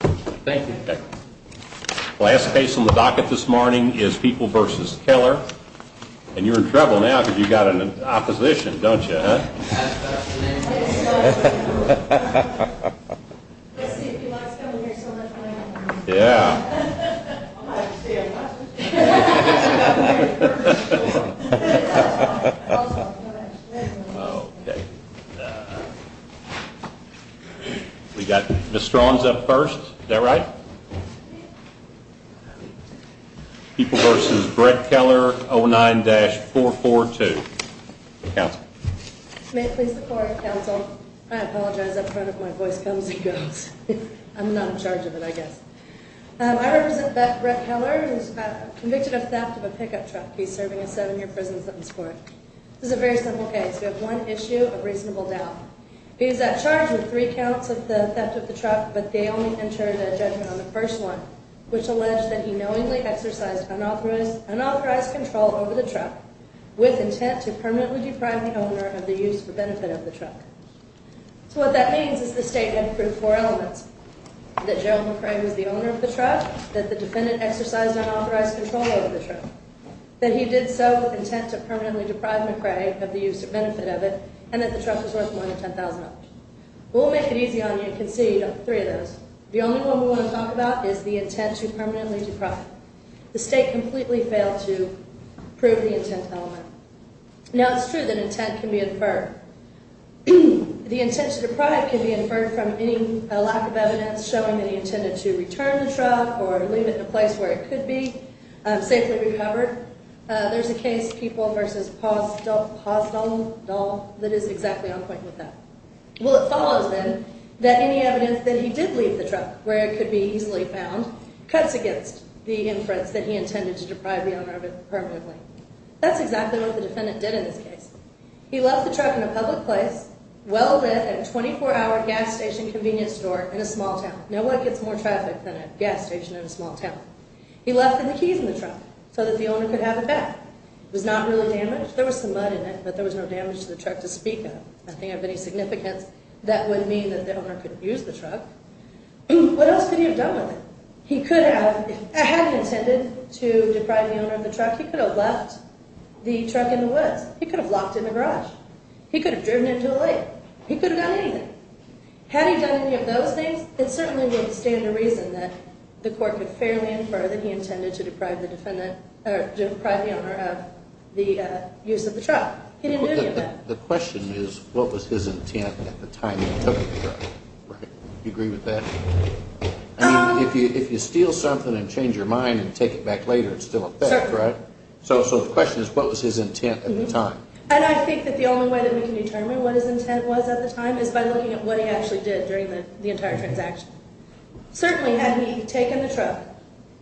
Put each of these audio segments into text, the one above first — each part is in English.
The last case on the docket this morning is People v. Keller. And you're in trouble now because you've got an opposition, don't you, huh? Let's see if he likes coming here so much. Yeah. We've got Ms. Strawns up first. Is that right? People v. Brett Keller, 09-442. May it please the court, counsel. I apologize up front if my voice comes and goes. I'm not in charge of it, I guess. I represent Brett Keller who's convicted of theft of a pickup truck. He's serving a seven-year prison sentence for it. This is a very simple case. We have one issue of reasonable doubt. He was at charge with three counts of the theft of the truck, but they only entered a judgment on the first one, which alleged that he knowingly exercised unauthorized control over the truck with intent to permanently deprive the owner of the use for benefit of the truck. So what that means is the statement proved four elements, that Gerald McRae was the owner of the truck, that the defendant exercised unauthorized control over the truck, that he did so with intent to permanently deprive McRae of the use or benefit of it, and that the truck was worth more than $10,000. We'll make it easy on you and concede three of those. The only one we want to talk about is the intent to permanently deprive. The state completely failed to prove the intent element. Now, it's true that intent can be inferred. The intent to deprive can be inferred from any lack of evidence showing that he intended to return the truck or leave it in a place where it could be safely recovered. There's a case, People v. Pazdal, that is exactly on point with that. Well, it follows, then, that any evidence that he did leave the truck where it could be easily found cuts against the inference that he intended to deprive the owner of it permanently. That's exactly what the defendant did in this case. He left the truck in a public place, well lit, at a 24-hour gas station convenience store in a small town. No one gets more traffic than a gas station in a small town. He left the keys in the truck so that the owner could have it back. It was not really damaged. There was some mud in it, but there was no damage to the truck to speak of, nothing of any significance that would mean that the owner could use the truck. What else could he have done with it? He could have, had he intended to deprive the owner of the truck, he could have left the truck in the woods. He could have locked it in the garage. He could have driven into a lake. He could have done anything. Had he done any of those things, it certainly would stand to reason that the court could fairly infer that he intended to deprive the owner of the use of the truck. The question is, what was his intent at the time he took the truck? Do you agree with that? If you steal something and change your mind and take it back later, it's still a theft, right? So the question is, what was his intent at the time? And I think that the only way that we can determine what his intent was at the time is by looking at what he actually did during the entire transaction. Certainly, had he taken the truck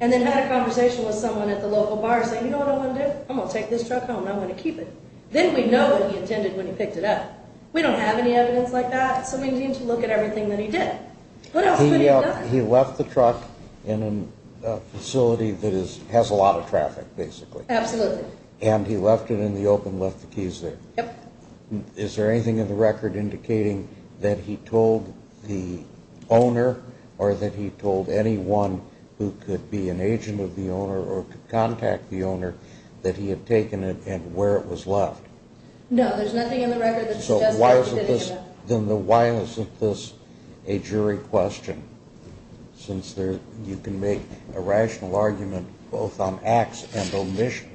and then had a conversation with someone at the local bar and said, You know what I'm going to do? I'm going to take this truck home and I'm going to keep it. Then we know what he intended when he picked it up. We don't have any evidence like that, so we need to look at everything that he did. What else could he have done? He left the truck in a facility that has a lot of traffic, basically. Absolutely. And he left it in the open, left the keys there. Yep. Is there anything in the record indicating that he told the owner or that he told anyone who could be an agent of the owner or could contact the owner that he had taken it and where it was left? No, there's nothing in the record that suggests that he did any of that. Then why isn't this a jury question? Since you can make a rational argument both on ax and omission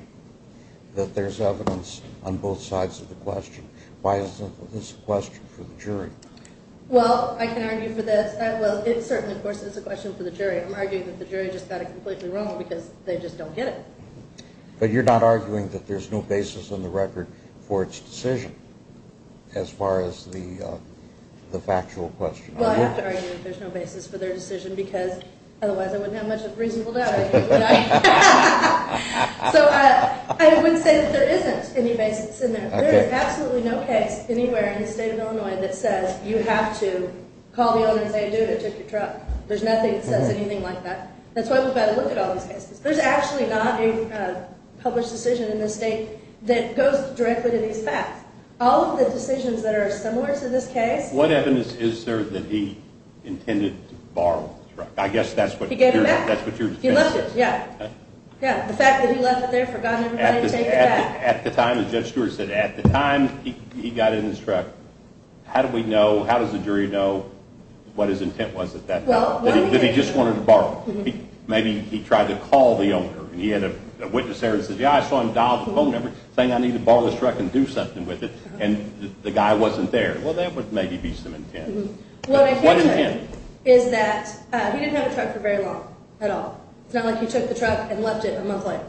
that there's evidence on both sides of the question. Why isn't this a question for the jury? Well, I can argue for this. Well, it certainly, of course, is a question for the jury. I'm arguing that the jury just got it completely wrong because they just don't get it. But you're not arguing that there's no basis in the record for its decision as far as the factual question. Well, I have to argue that there's no basis for their decision because otherwise I wouldn't have much of a reasonable doubt. So I would say that there isn't any basis in there. There is absolutely no case anywhere in the state of Illinois that says you have to call the owner and say, dude, I took your truck. There's nothing that says anything like that. That's why we've got to look at all these cases. There's actually not a published decision in this state that goes directly to these facts. All of the decisions that are similar to this case. What evidence is there that he intended to borrow the truck? I guess that's what your defense is. He left it. Yeah. The fact that he left it there, forgot everybody to take it back. At the time, as Judge Stewart said, at the time he got in his truck, how does the jury know what his intent was at that time? That he just wanted to borrow it. Maybe he tried to call the owner. He had a witness there that said, yeah, I saw him dial the phone number saying I need to borrow this truck and do something with it. And the guy wasn't there. Well, that would maybe be some intent. What I can say is that he didn't have the truck for very long at all. It's not like he took the truck and left it a month later.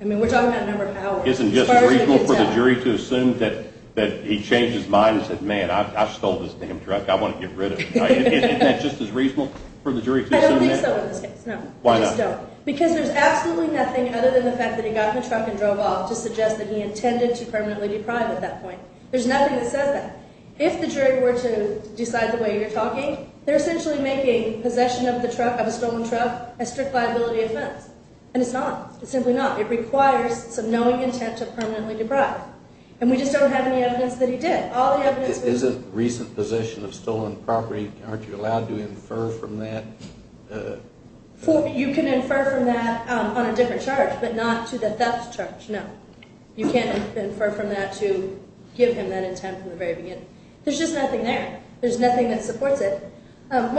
I mean, we're talking about a number of hours. Isn't it just reasonable for the jury to assume that he changed his mind and said, man, I stole this damn truck. I want to get rid of it. Isn't that just as reasonable for the jury to assume that? I don't think so in this case, no. Why not? Because there's absolutely nothing other than the fact that he got in the truck and drove off to suggest that he intended to permanently deprive at that point. There's nothing that says that. If the jury were to decide the way you're talking, they're essentially making possession of the truck, of a stolen truck, a strict liability offense. And it's not. It's simply not. It requires some knowing intent to permanently deprive. And we just don't have any evidence that he did. Isn't recent possession of stolen property, aren't you allowed to infer from that? You can infer from that on a different charge, but not to the theft charge, no. You can't infer from that to give him that intent from the very beginning. There's just nothing there. There's nothing that supports it. Did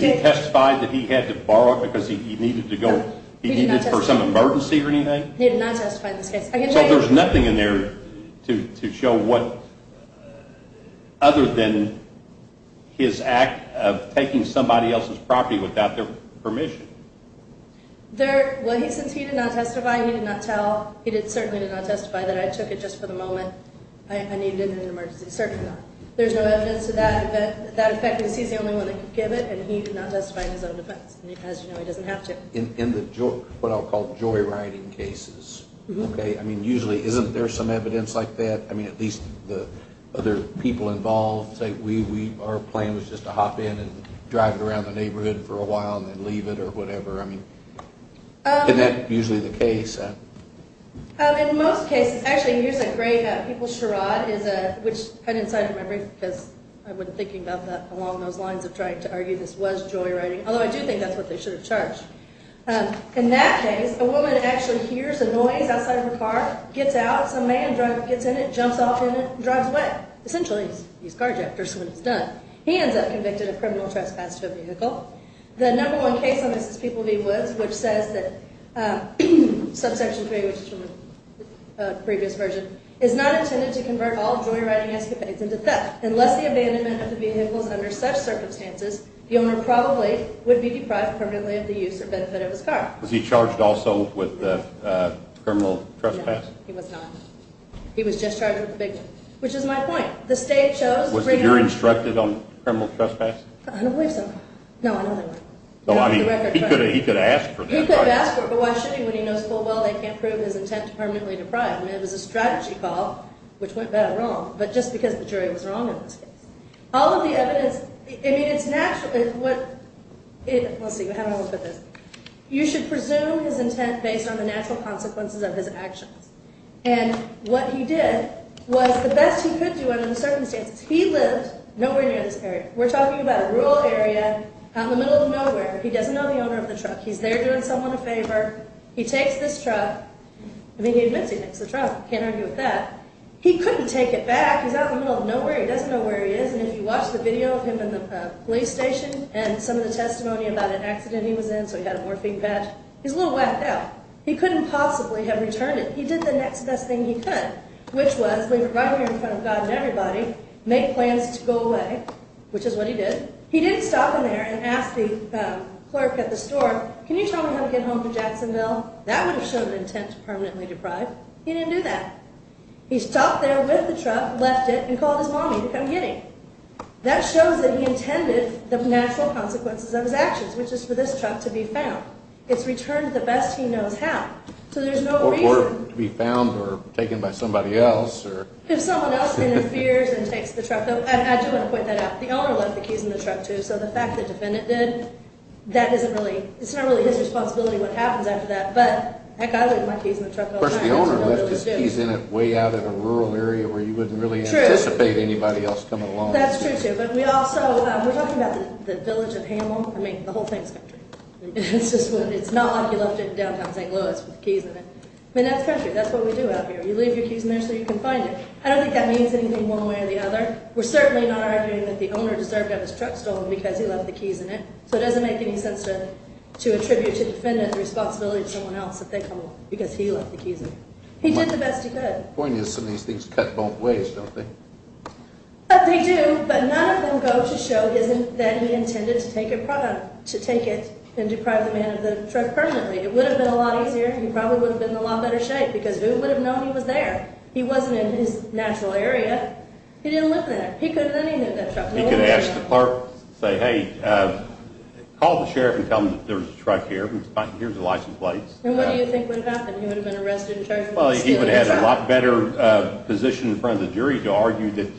he testify that he had to borrow it because he needed it for some emergency or anything? He did not testify in this case. So there's nothing in there to show what other than his act of taking somebody else's property without their permission. Well, since he did not testify, he did not tell. He certainly did not testify that I took it just for the moment. I needed it in an emergency. Certainly not. There's no evidence to that. That effect is he's the only one that could give it, and he did not testify in his own defense. As you know, he doesn't have to. In the what I'll call joyriding cases, okay, I mean, usually isn't there some evidence like that? I mean, at least the other people involved say our plan was just to hop in and drive it around the neighborhood for a while and then leave it or whatever. I mean, isn't that usually the case? In most cases. Actually, here's a great people charade, which I didn't sign in my brief because I wasn't thinking about that along those lines of trying to argue this was joyriding, although I do think that's what they should have charged. In that case, a woman actually hears a noise outside of her car, gets out. Some man gets in it, jumps off in it, and drives away. Essentially, he's carjacked first when he's done. He ends up convicted of criminal trespass to a vehicle. The number one case on this is People v. Woods, which says that subsection 3, which is from the previous version, is not intended to convert all joyriding escapades into theft. Unless the abandonment of the vehicle is under such circumstances, the owner probably would be deprived permanently of the use or benefit of his car. Was he charged also with criminal trespass? No, he was not. He was just charged with a big one, which is my point. The state chose. Was the jury instructed on criminal trespass? I don't believe so. No, I don't think so. He could have asked for that. He could have asked for it, but why should he when he knows full well they can't prove his intent to permanently deprive him? It was a strategy call, which went bad or wrong, but just because the jury was wrong in this case. All of the evidence, I mean, it's natural. Let's see, how do I look at this? You should presume his intent based on the natural consequences of his actions. And what he did was the best he could do under the circumstances. He lived nowhere near this area. We're talking about a rural area out in the middle of nowhere. He doesn't know the owner of the truck. He's there doing someone a favor. He takes this truck. I mean, he admits he takes the truck. Can't argue with that. He couldn't take it back. He's out in the middle of nowhere. He doesn't know where he is. And if you watch the video of him in the police station and some of the testimony about an accident he was in, so he had a morphine patch, he's a little whacked out. He couldn't possibly have returned it. He did the next best thing he could, which was leave it right here in front of God and everybody, make plans to go away, which is what he did. He didn't stop in there and ask the clerk at the store, can you tell me how to get home to Jacksonville? That would have shown an intent to permanently deprive. He didn't do that. He stopped there with the truck, left it, and called his mommy to come get him. That shows that he intended the natural consequences of his actions, which is for this truck to be found. It's returned the best he knows how. So there's no reason. Or to be found or taken by somebody else. If someone else interferes and takes the truck. I do want to point that out. The owner left the keys in the truck, too. So the fact that the defendant did, that isn't really, it's not really his responsibility what happens after that. But, heck, I leave my keys in the truck all the time. Of course, the owner left his keys in it way out in a rural area where you wouldn't really anticipate anybody else coming along. That's true, too. But we also, we're talking about the village of Hamel. I mean, the whole thing's country. It's not like you left it in downtown St. Louis with keys in it. I mean, that's country. That's what we do out here. You leave your keys in there so you can find it. I don't think that means anything one way or the other. We're certainly not arguing that the owner deserved to have his truck stolen because he left the keys in it. So it doesn't make any sense to attribute to the defendant the responsibility to someone else if they come along because he left the keys in it. He did the best he could. The point is some of these things cut both ways, don't they? They do, but none of them go to show that he intended to take it and deprive the man of the truck permanently. It would have been a lot easier. He probably would have been in a lot better shape because who would have known he was there? He wasn't in his natural area. He didn't live there. He could have done anything with that truck. He could have asked the clerk, say, hey, call the sheriff and tell him that there's a truck here. Here's the license plates. And what do you think would have happened? He would have been arrested and charged with stealing the truck. Well, he would have had a lot better position in front of the jury to argue that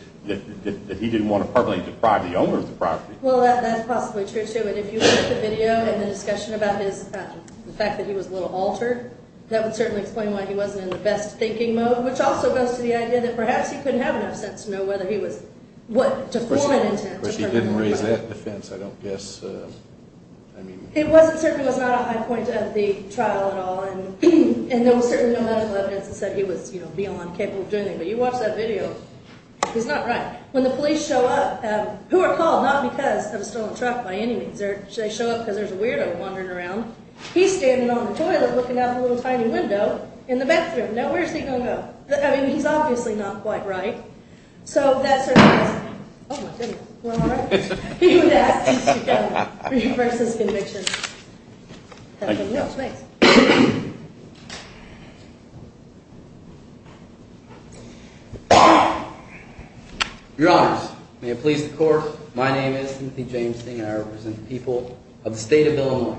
he didn't want to permanently deprive the owner of the property. Well, that's possibly true, too. And if you look at the video and the discussion about the fact that he was a little altered, that would certainly explain why he wasn't in the best thinking mode, which also goes to the idea that perhaps he couldn't have enough sense to know whether he was, to form an intent to permanently deprive. But he didn't raise that defense, I don't guess. It certainly was not a high point of the trial at all. And there was certainly no medical evidence that said he was beyond capable of doing anything. But you watch that video, he's not right. When the police show up, who are called, not because of a stolen truck by any means. They show up because there's a weirdo wandering around. He's standing on the toilet looking out the little tiny window in the bedroom. Now, where's he going to go? I mean, he's obviously not quite right. So that certainly is. Oh, my goodness. You all right? You and that. You should go. Reverses conviction. Thank you. Thanks. Your Honors, may it please the Court, my name is Timothy James Sting and I represent the people of the State of Illinois.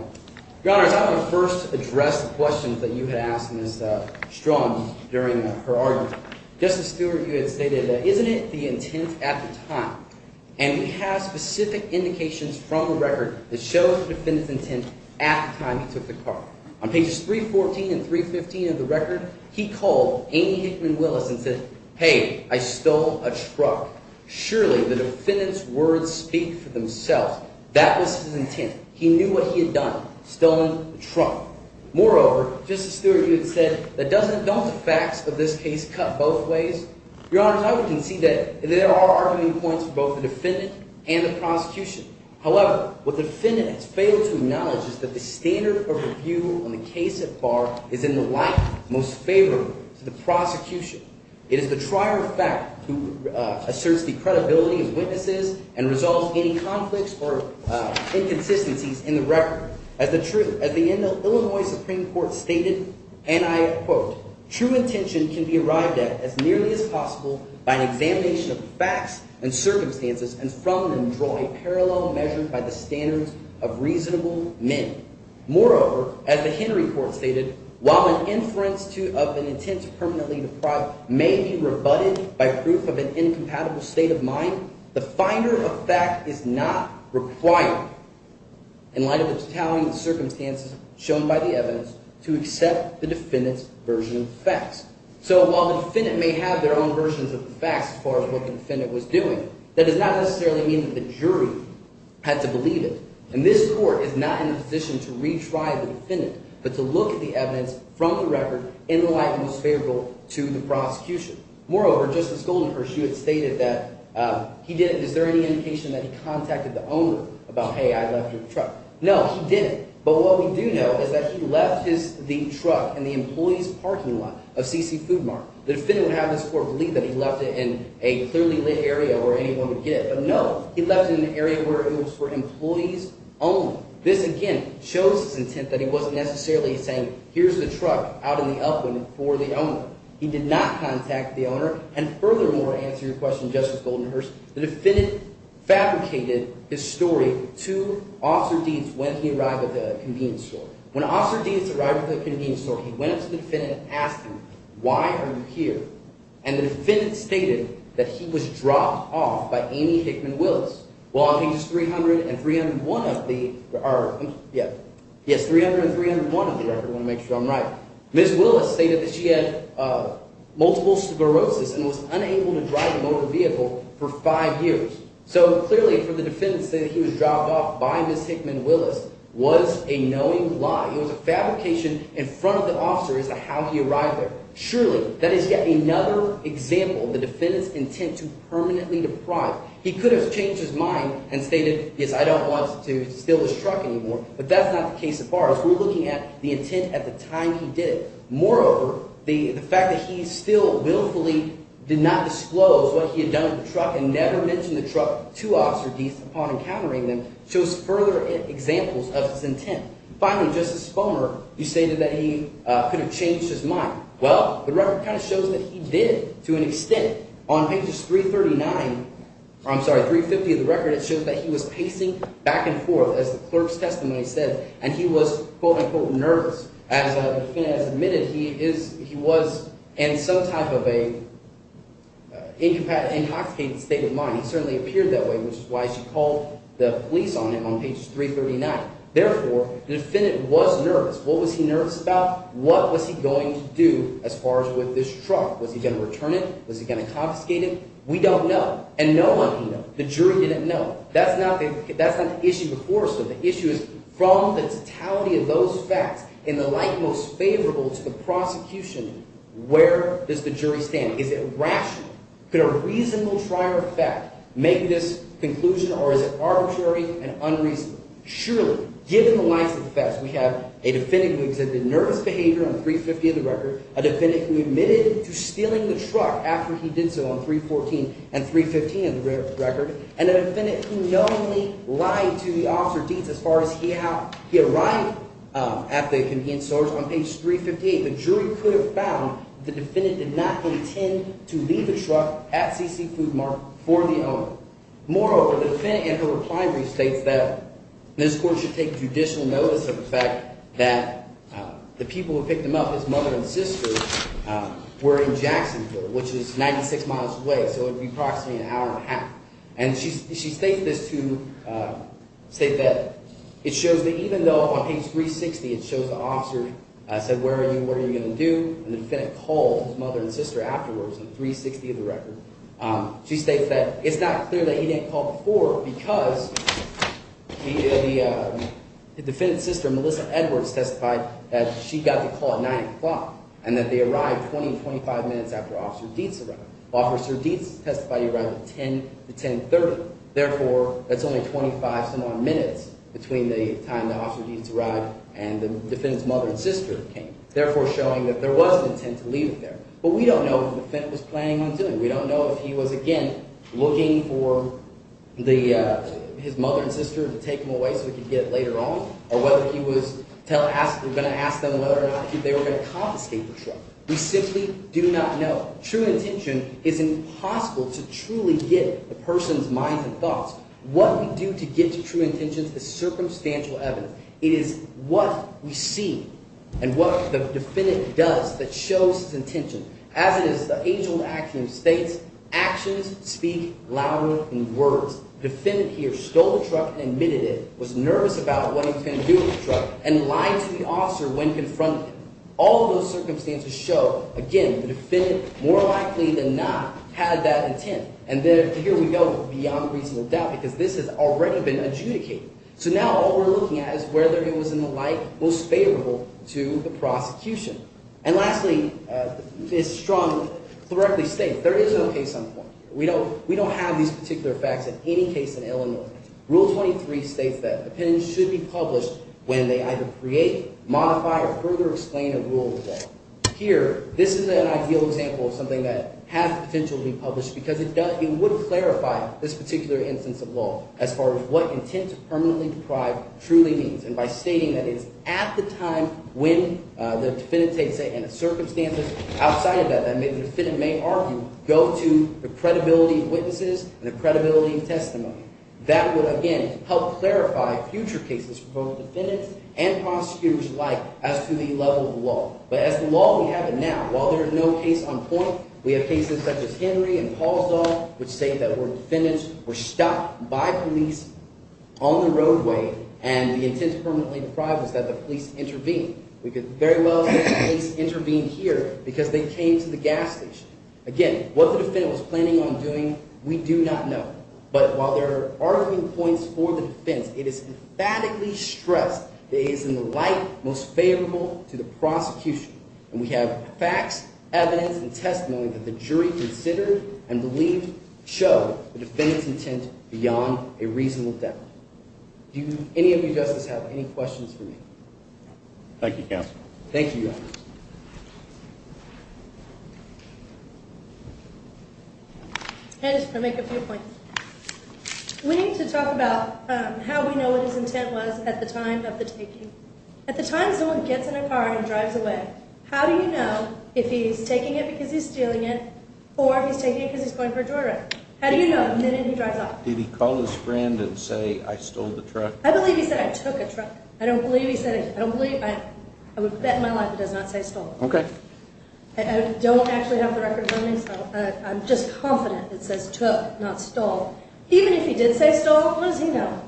Your Honors, I want to first address the questions that you had asked Ms. Strawn during her argument. Justice Stewart, you had stated, isn't it the intent at the time? And we have specific indications from the record that show the defendant's intent at the time he took the car. On pages 314 and 315 of the record, he called Amy Hickman Willis and said, hey, I stole a truck. Surely the defendant's words speak for themselves. That was his intent. He knew what he had done, stolen a truck. Moreover, Justice Stewart, you had said, don't the facts of this case cut both ways? Your Honors, I would concede that there are arguing points for both the defendant and the prosecution. However, what the defendant has failed to acknowledge is that the standard of review on the case at bar is in the light most favorable to the prosecution. It is the trier of fact who asserts the credibility of witnesses and resolves any conflicts or inconsistencies in the record. As the truth, as the Illinois Supreme Court stated, and I quote, true intention can be arrived at as nearly as possible by an examination of facts and circumstances and from them draw a parallel measure by the standards of reasonable men. Moreover, as the Henry Court stated, while an inference of an intent to permanently deprive may be rebutted by proof of an incompatible state of mind, the finder of fact is not required in light of the totality of the circumstances shown by the evidence to accept the defendant's version of the facts. So while the defendant may have their own versions of the facts as far as what the defendant was doing, that does not necessarily mean that the jury had to believe it. And this court is not in a position to retry the defendant but to look at the evidence from the record in the light most favorable to the prosecution. Moreover, Justice Goldenberg, she had stated that he didn't – is there any indication that he contacted the owner about, hey, I left your truck? No, he didn't. But what we do know is that he left the truck in the employee's parking lot of C.C. Food Mart. The defendant would have this court believe that he left it in a clearly lit area where anyone would get it. But no, he left it in an area where it was for employees only. This, again, shows his intent that he wasn't necessarily saying here's the truck out in the upwind for the owner. He did not contact the owner. And furthermore, to answer your question, Justice Goldenberg, the defendant fabricated his story to Officer Deeds when he arrived at the convenience store. When Officer Deeds arrived at the convenience store, he went up to the defendant and asked him, why are you here? And the defendant stated that he was dropped off by Amy Hickman Willis. Well, on pages 300 and 301 of the – yes, 300 and 301 of the record. I want to make sure I'm right. Ms. Willis stated that she had multiple sclerosis and was unable to drive a motor vehicle for five years. So clearly, for the defendant to say that he was dropped off by Ms. Hickman Willis was a knowing lie. It was a fabrication in front of the officer as to how he arrived there. Surely, that is yet another example of the defendant's intent to permanently deprive. He could have changed his mind and stated, yes, I don't want to steal this truck anymore. But that's not the case as far as we're looking at the intent at the time he did it. Moreover, the fact that he still willfully did not disclose what he had done with the truck and never mentioned the truck to Officer Deeds upon encountering them shows further examples of his intent. Finally, Justice Fulmer, you stated that he could have changed his mind. Well, the record kind of shows that he did to an extent. On pages 339 – I'm sorry, 350 of the record, it shows that he was pacing back and forth, as the clerk's testimony said, and he was, quote-unquote, nervous. As the defendant has admitted, he was in some type of an incapacitated state of mind. He certainly appeared that way, which is why she called the police on him on page 339. Therefore, the defendant was nervous. What was he nervous about? What was he going to do as far as with this truck? Was he going to return it? Was he going to confiscate it? We don't know. And no one knew. The jury didn't know. That's not the issue before us, though. The issue is from the totality of those facts in the light most favorable to the prosecution, where does the jury stand? Is it rational? Could a reasonable trier of fact make this conclusion, or is it arbitrary and unreasonable? Surely, given the lies of the facts, we have a defendant who exhibited nervous behavior on 350 of the record, a defendant who admitted to stealing the truck after he did so on 314 and 315 of the record, and a defendant who knowingly lied to the officer of deeds as far as he had – he arrived at the convenience stores on page 358. Surely, the jury could have found that the defendant did not intend to leave the truck at C.C. Food Mart for the owner. Moreover, the defendant in her reply brief states that this court should take judicial notice of the fact that the people who picked him up, his mother and sister, were in Jacksonville, which is 96 miles away, so it would be approximately an hour and a half. And she states this to – states that it shows that even though on page 360 it shows the officer said, where are you, what are you going to do, and the defendant called his mother and sister afterwards on 360 of the record, she states that it's not clear that he didn't call before because the defendant's sister, Melissa Edwards, testified that she got the call at 9 o'clock and that they arrived 20 to 25 minutes after Officer Deeds arrived. They arrived at 10 to 1030. Therefore, that's only 25-some-odd minutes between the time that Officer Deeds arrived and the defendant's mother and sister came, therefore showing that there was an intent to leave it there. But we don't know if the defendant was planning on doing it. We don't know if he was, again, looking for the – his mother and sister to take him away so he could get it later on or whether he was going to ask them whether or not they were going to confiscate the truck. We simply do not know. True intention is impossible to truly get the person's mind and thoughts. What we do to get to true intentions is circumstantial evidence. It is what we see and what the defendant does that shows his intention. As it is, the age-old action states, actions speak louder than words. The defendant here stole the truck and admitted it, was nervous about what he was going to do with the truck, and lied to the officer when confronted. All of those circumstances show, again, the defendant more likely than not had that intent. And here we go with beyond reasonable doubt because this has already been adjudicated. So now all we're looking at is whether it was in the light most favorable to the prosecution. And lastly, this strongly, correctly states there is an okay-sum point here. We don't have these particular facts in any case in Illinois. Rule 23 states that an opinion should be published when they either create, modify, or further explain a rule of law. Here, this is an ideal example of something that has potential to be published because it would clarify this particular instance of law as far as what intent to permanently deprive truly means. And by stating that it is at the time when the defendant takes it and the circumstances outside of that that the defendant may argue go to the credibility of witnesses and the credibility of testimony. That would, again, help clarify future cases for both defendants and prosecutors alike as to the level of law. But as the law we have it now, while there is no case on point, we have cases such as Henry and Paulsdorf which state that defendants were stopped by police on the roadway and the intent to permanently deprive was that the police intervene. We could very well say the police intervened here because they came to the gas station. Again, what the defendant was planning on doing we do not know. But while there are arguing points for the defense, it is emphatically stressed that it is in the light most favorable to the prosecution. And we have facts, evidence, and testimony that the jury considered and believed show the defendant's intent beyond a reasonable doubt. Do any of you justice have any questions for me? Thank you, counsel. Thank you, Your Honor. I just want to make a few points. We need to talk about how we know what his intent was at the time of the taking. At the time someone gets in a car and drives away, how do you know if he's taking it because he's stealing it or if he's taking it because he's going for a drive? How do you know the minute he drives off? Did he call his friend and say, I stole the truck? I believe he said, I took a truck. I don't believe he said, I don't believe, I would bet my life he does not say stole. Okay. I don't actually have the records on me, so I'm just confident it says took, not stole. Even if he did say stole, what does he know?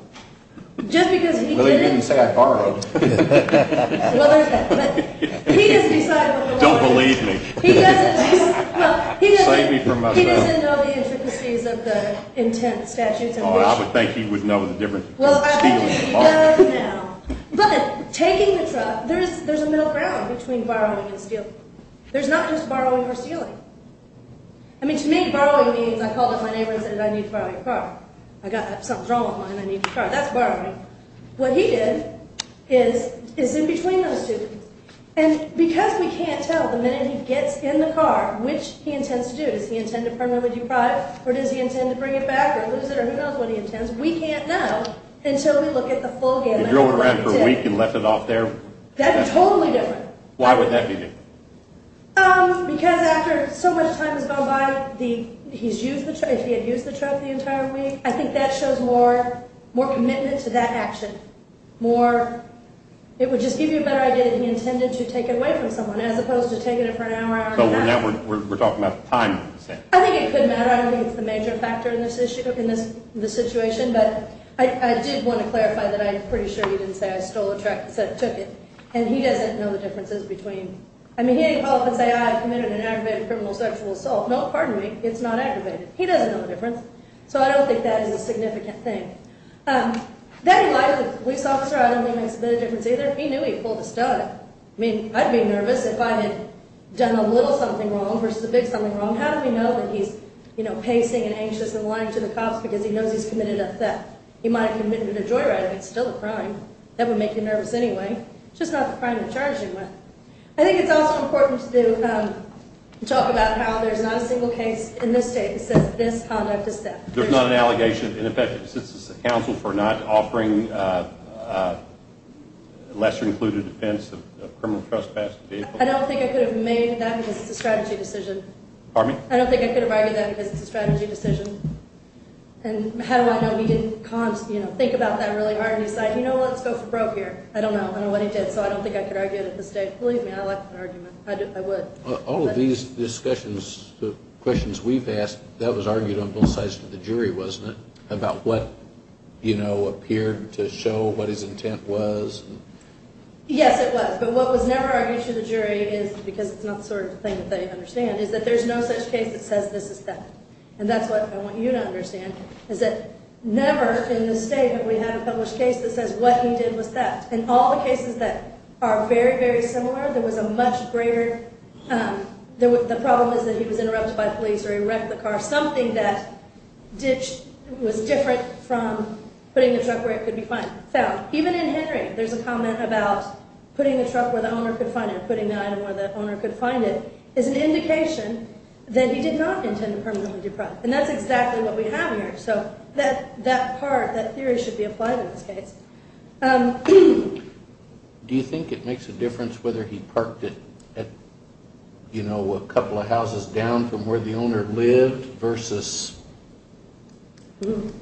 Just because he didn't. Well, he didn't say I borrowed. Well, there's that. But he doesn't decide what the law is. Don't believe me. He doesn't. Well, he doesn't. Save me from myself. He doesn't know the intricacies of the intent statutes in which. I would think he would know the difference between stealing and borrowing. But taking the truck, there's a middle ground between borrowing and stealing. There's not just borrowing or stealing. I mean, to me, borrowing means I called up my neighbor and said, I need to borrow your car. I got something's wrong with mine. I need your car. That's borrowing. What he did is in between those two. And because we can't tell the minute he gets in the car, which he intends to do. Does he intend to permanently deprive or does he intend to bring it back or lose it or who knows what he intends. We can't know until we look at the full gambit. He drove around for a week and left it off there. That's totally different. Why would that be different? Because after so much time has gone by, he's used the truck, he had used the truck the entire week. I think that shows more commitment to that action. More, it would just give you a better idea that he intended to take it away from someone as opposed to taking it for an hour. But we're talking about time. I think it could matter. I don't think it's the major factor in this situation. But I did want to clarify that I'm pretty sure he didn't say I stole the truck and said I took it. And he doesn't know the differences between. I mean, he didn't call up and say, I committed an aggravated criminal sexual assault. No, pardon me. It's not aggravated. He doesn't know the difference. So I don't think that is a significant thing. Then he lied to the police officer. I don't think it makes a big difference either. He knew he pulled a stud. I mean, I'd be nervous if I had done a little something wrong versus a big something wrong. How do we know that he's pacing and anxious and lying to the cops because he knows he's committed a theft? He might have committed a joyride. It's still a crime. That would make you nervous anyway. It's just not the crime you're charging with. I think it's also important to talk about how there's not a single case in this state that says this conduct is theft. There's not an allegation. In effect, it assists the council for not offering lesser-included offense of criminal trespassing. I don't think I could have made that because it's a strategy decision. Pardon me? I don't think I could have argued that because it's a strategy decision. And how do I know he didn't think about that really hard and decide, you know what, let's go for broke here. I don't know. I don't know what he did. So I don't think I could argue it at this stage. Believe me, I'd like an argument. I would. All of these discussions, the questions we've asked, that was argued on both sides of the jury, wasn't it? About what, you know, appeared to show what his intent was. Yes, it was. But what was never argued to the jury is, because it's not the sort of thing that they understand, is that there's no such case that says this is theft. And that's what I want you to understand is that never in this state have we had a published case that says what he did was theft. In all the cases that are very, very similar, there was a much greater, the problem is that he was interrupted by police or he wrecked the car, something that was different from putting the truck where it could be found. Even in Henry, there's a comment about putting the truck where the owner could find it, putting the item where the owner could find it, is an indication that he did not intend to permanently deprive. And that's exactly what we have here. So that part, that theory should be applied in this case. Do you think it makes a difference whether he parked it at, you know, a couple of houses down from where the owner lived versus,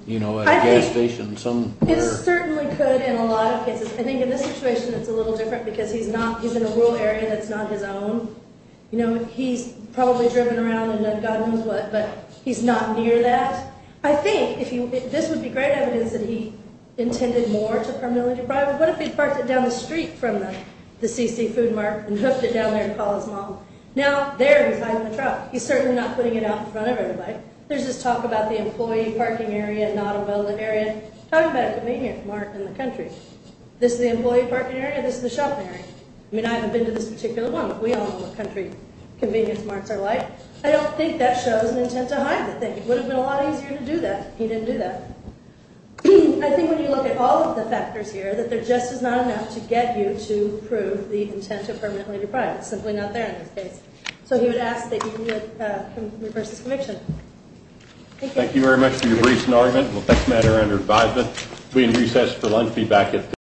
you know, a gas station somewhere? It certainly could in a lot of cases. I think in this situation it's a little different because he's not, he's in a rural area that's not his own. You know, he's probably driven around and done God knows what, but he's not near that. I think if you, this would be great evidence that he intended more to permanently deprive it. What if he parked it down the street from the C.C. Food Mart and hooked it down there to call his mom? Now, there he's hiding the truck. He's certainly not putting it out in front of everybody. There's this talk about the employee parking area not a relevant area. Talk about a convenient mark in the country. This is the employee parking area, this is the shopping area. I mean, I haven't been to this particular one. We all know what country convenience marks are like. I don't think that shows an intent to hide the thing. It would have been a lot easier to do that. He didn't do that. I think when you look at all of the factors here, that there just is not enough to get you to prove the intent to permanently deprive it. It's simply not there in this case. So he would ask that you reverse his conviction. Thank you. Thank you very much for your briefs and argument. We'll take the matter under advisement. We recess for lunch.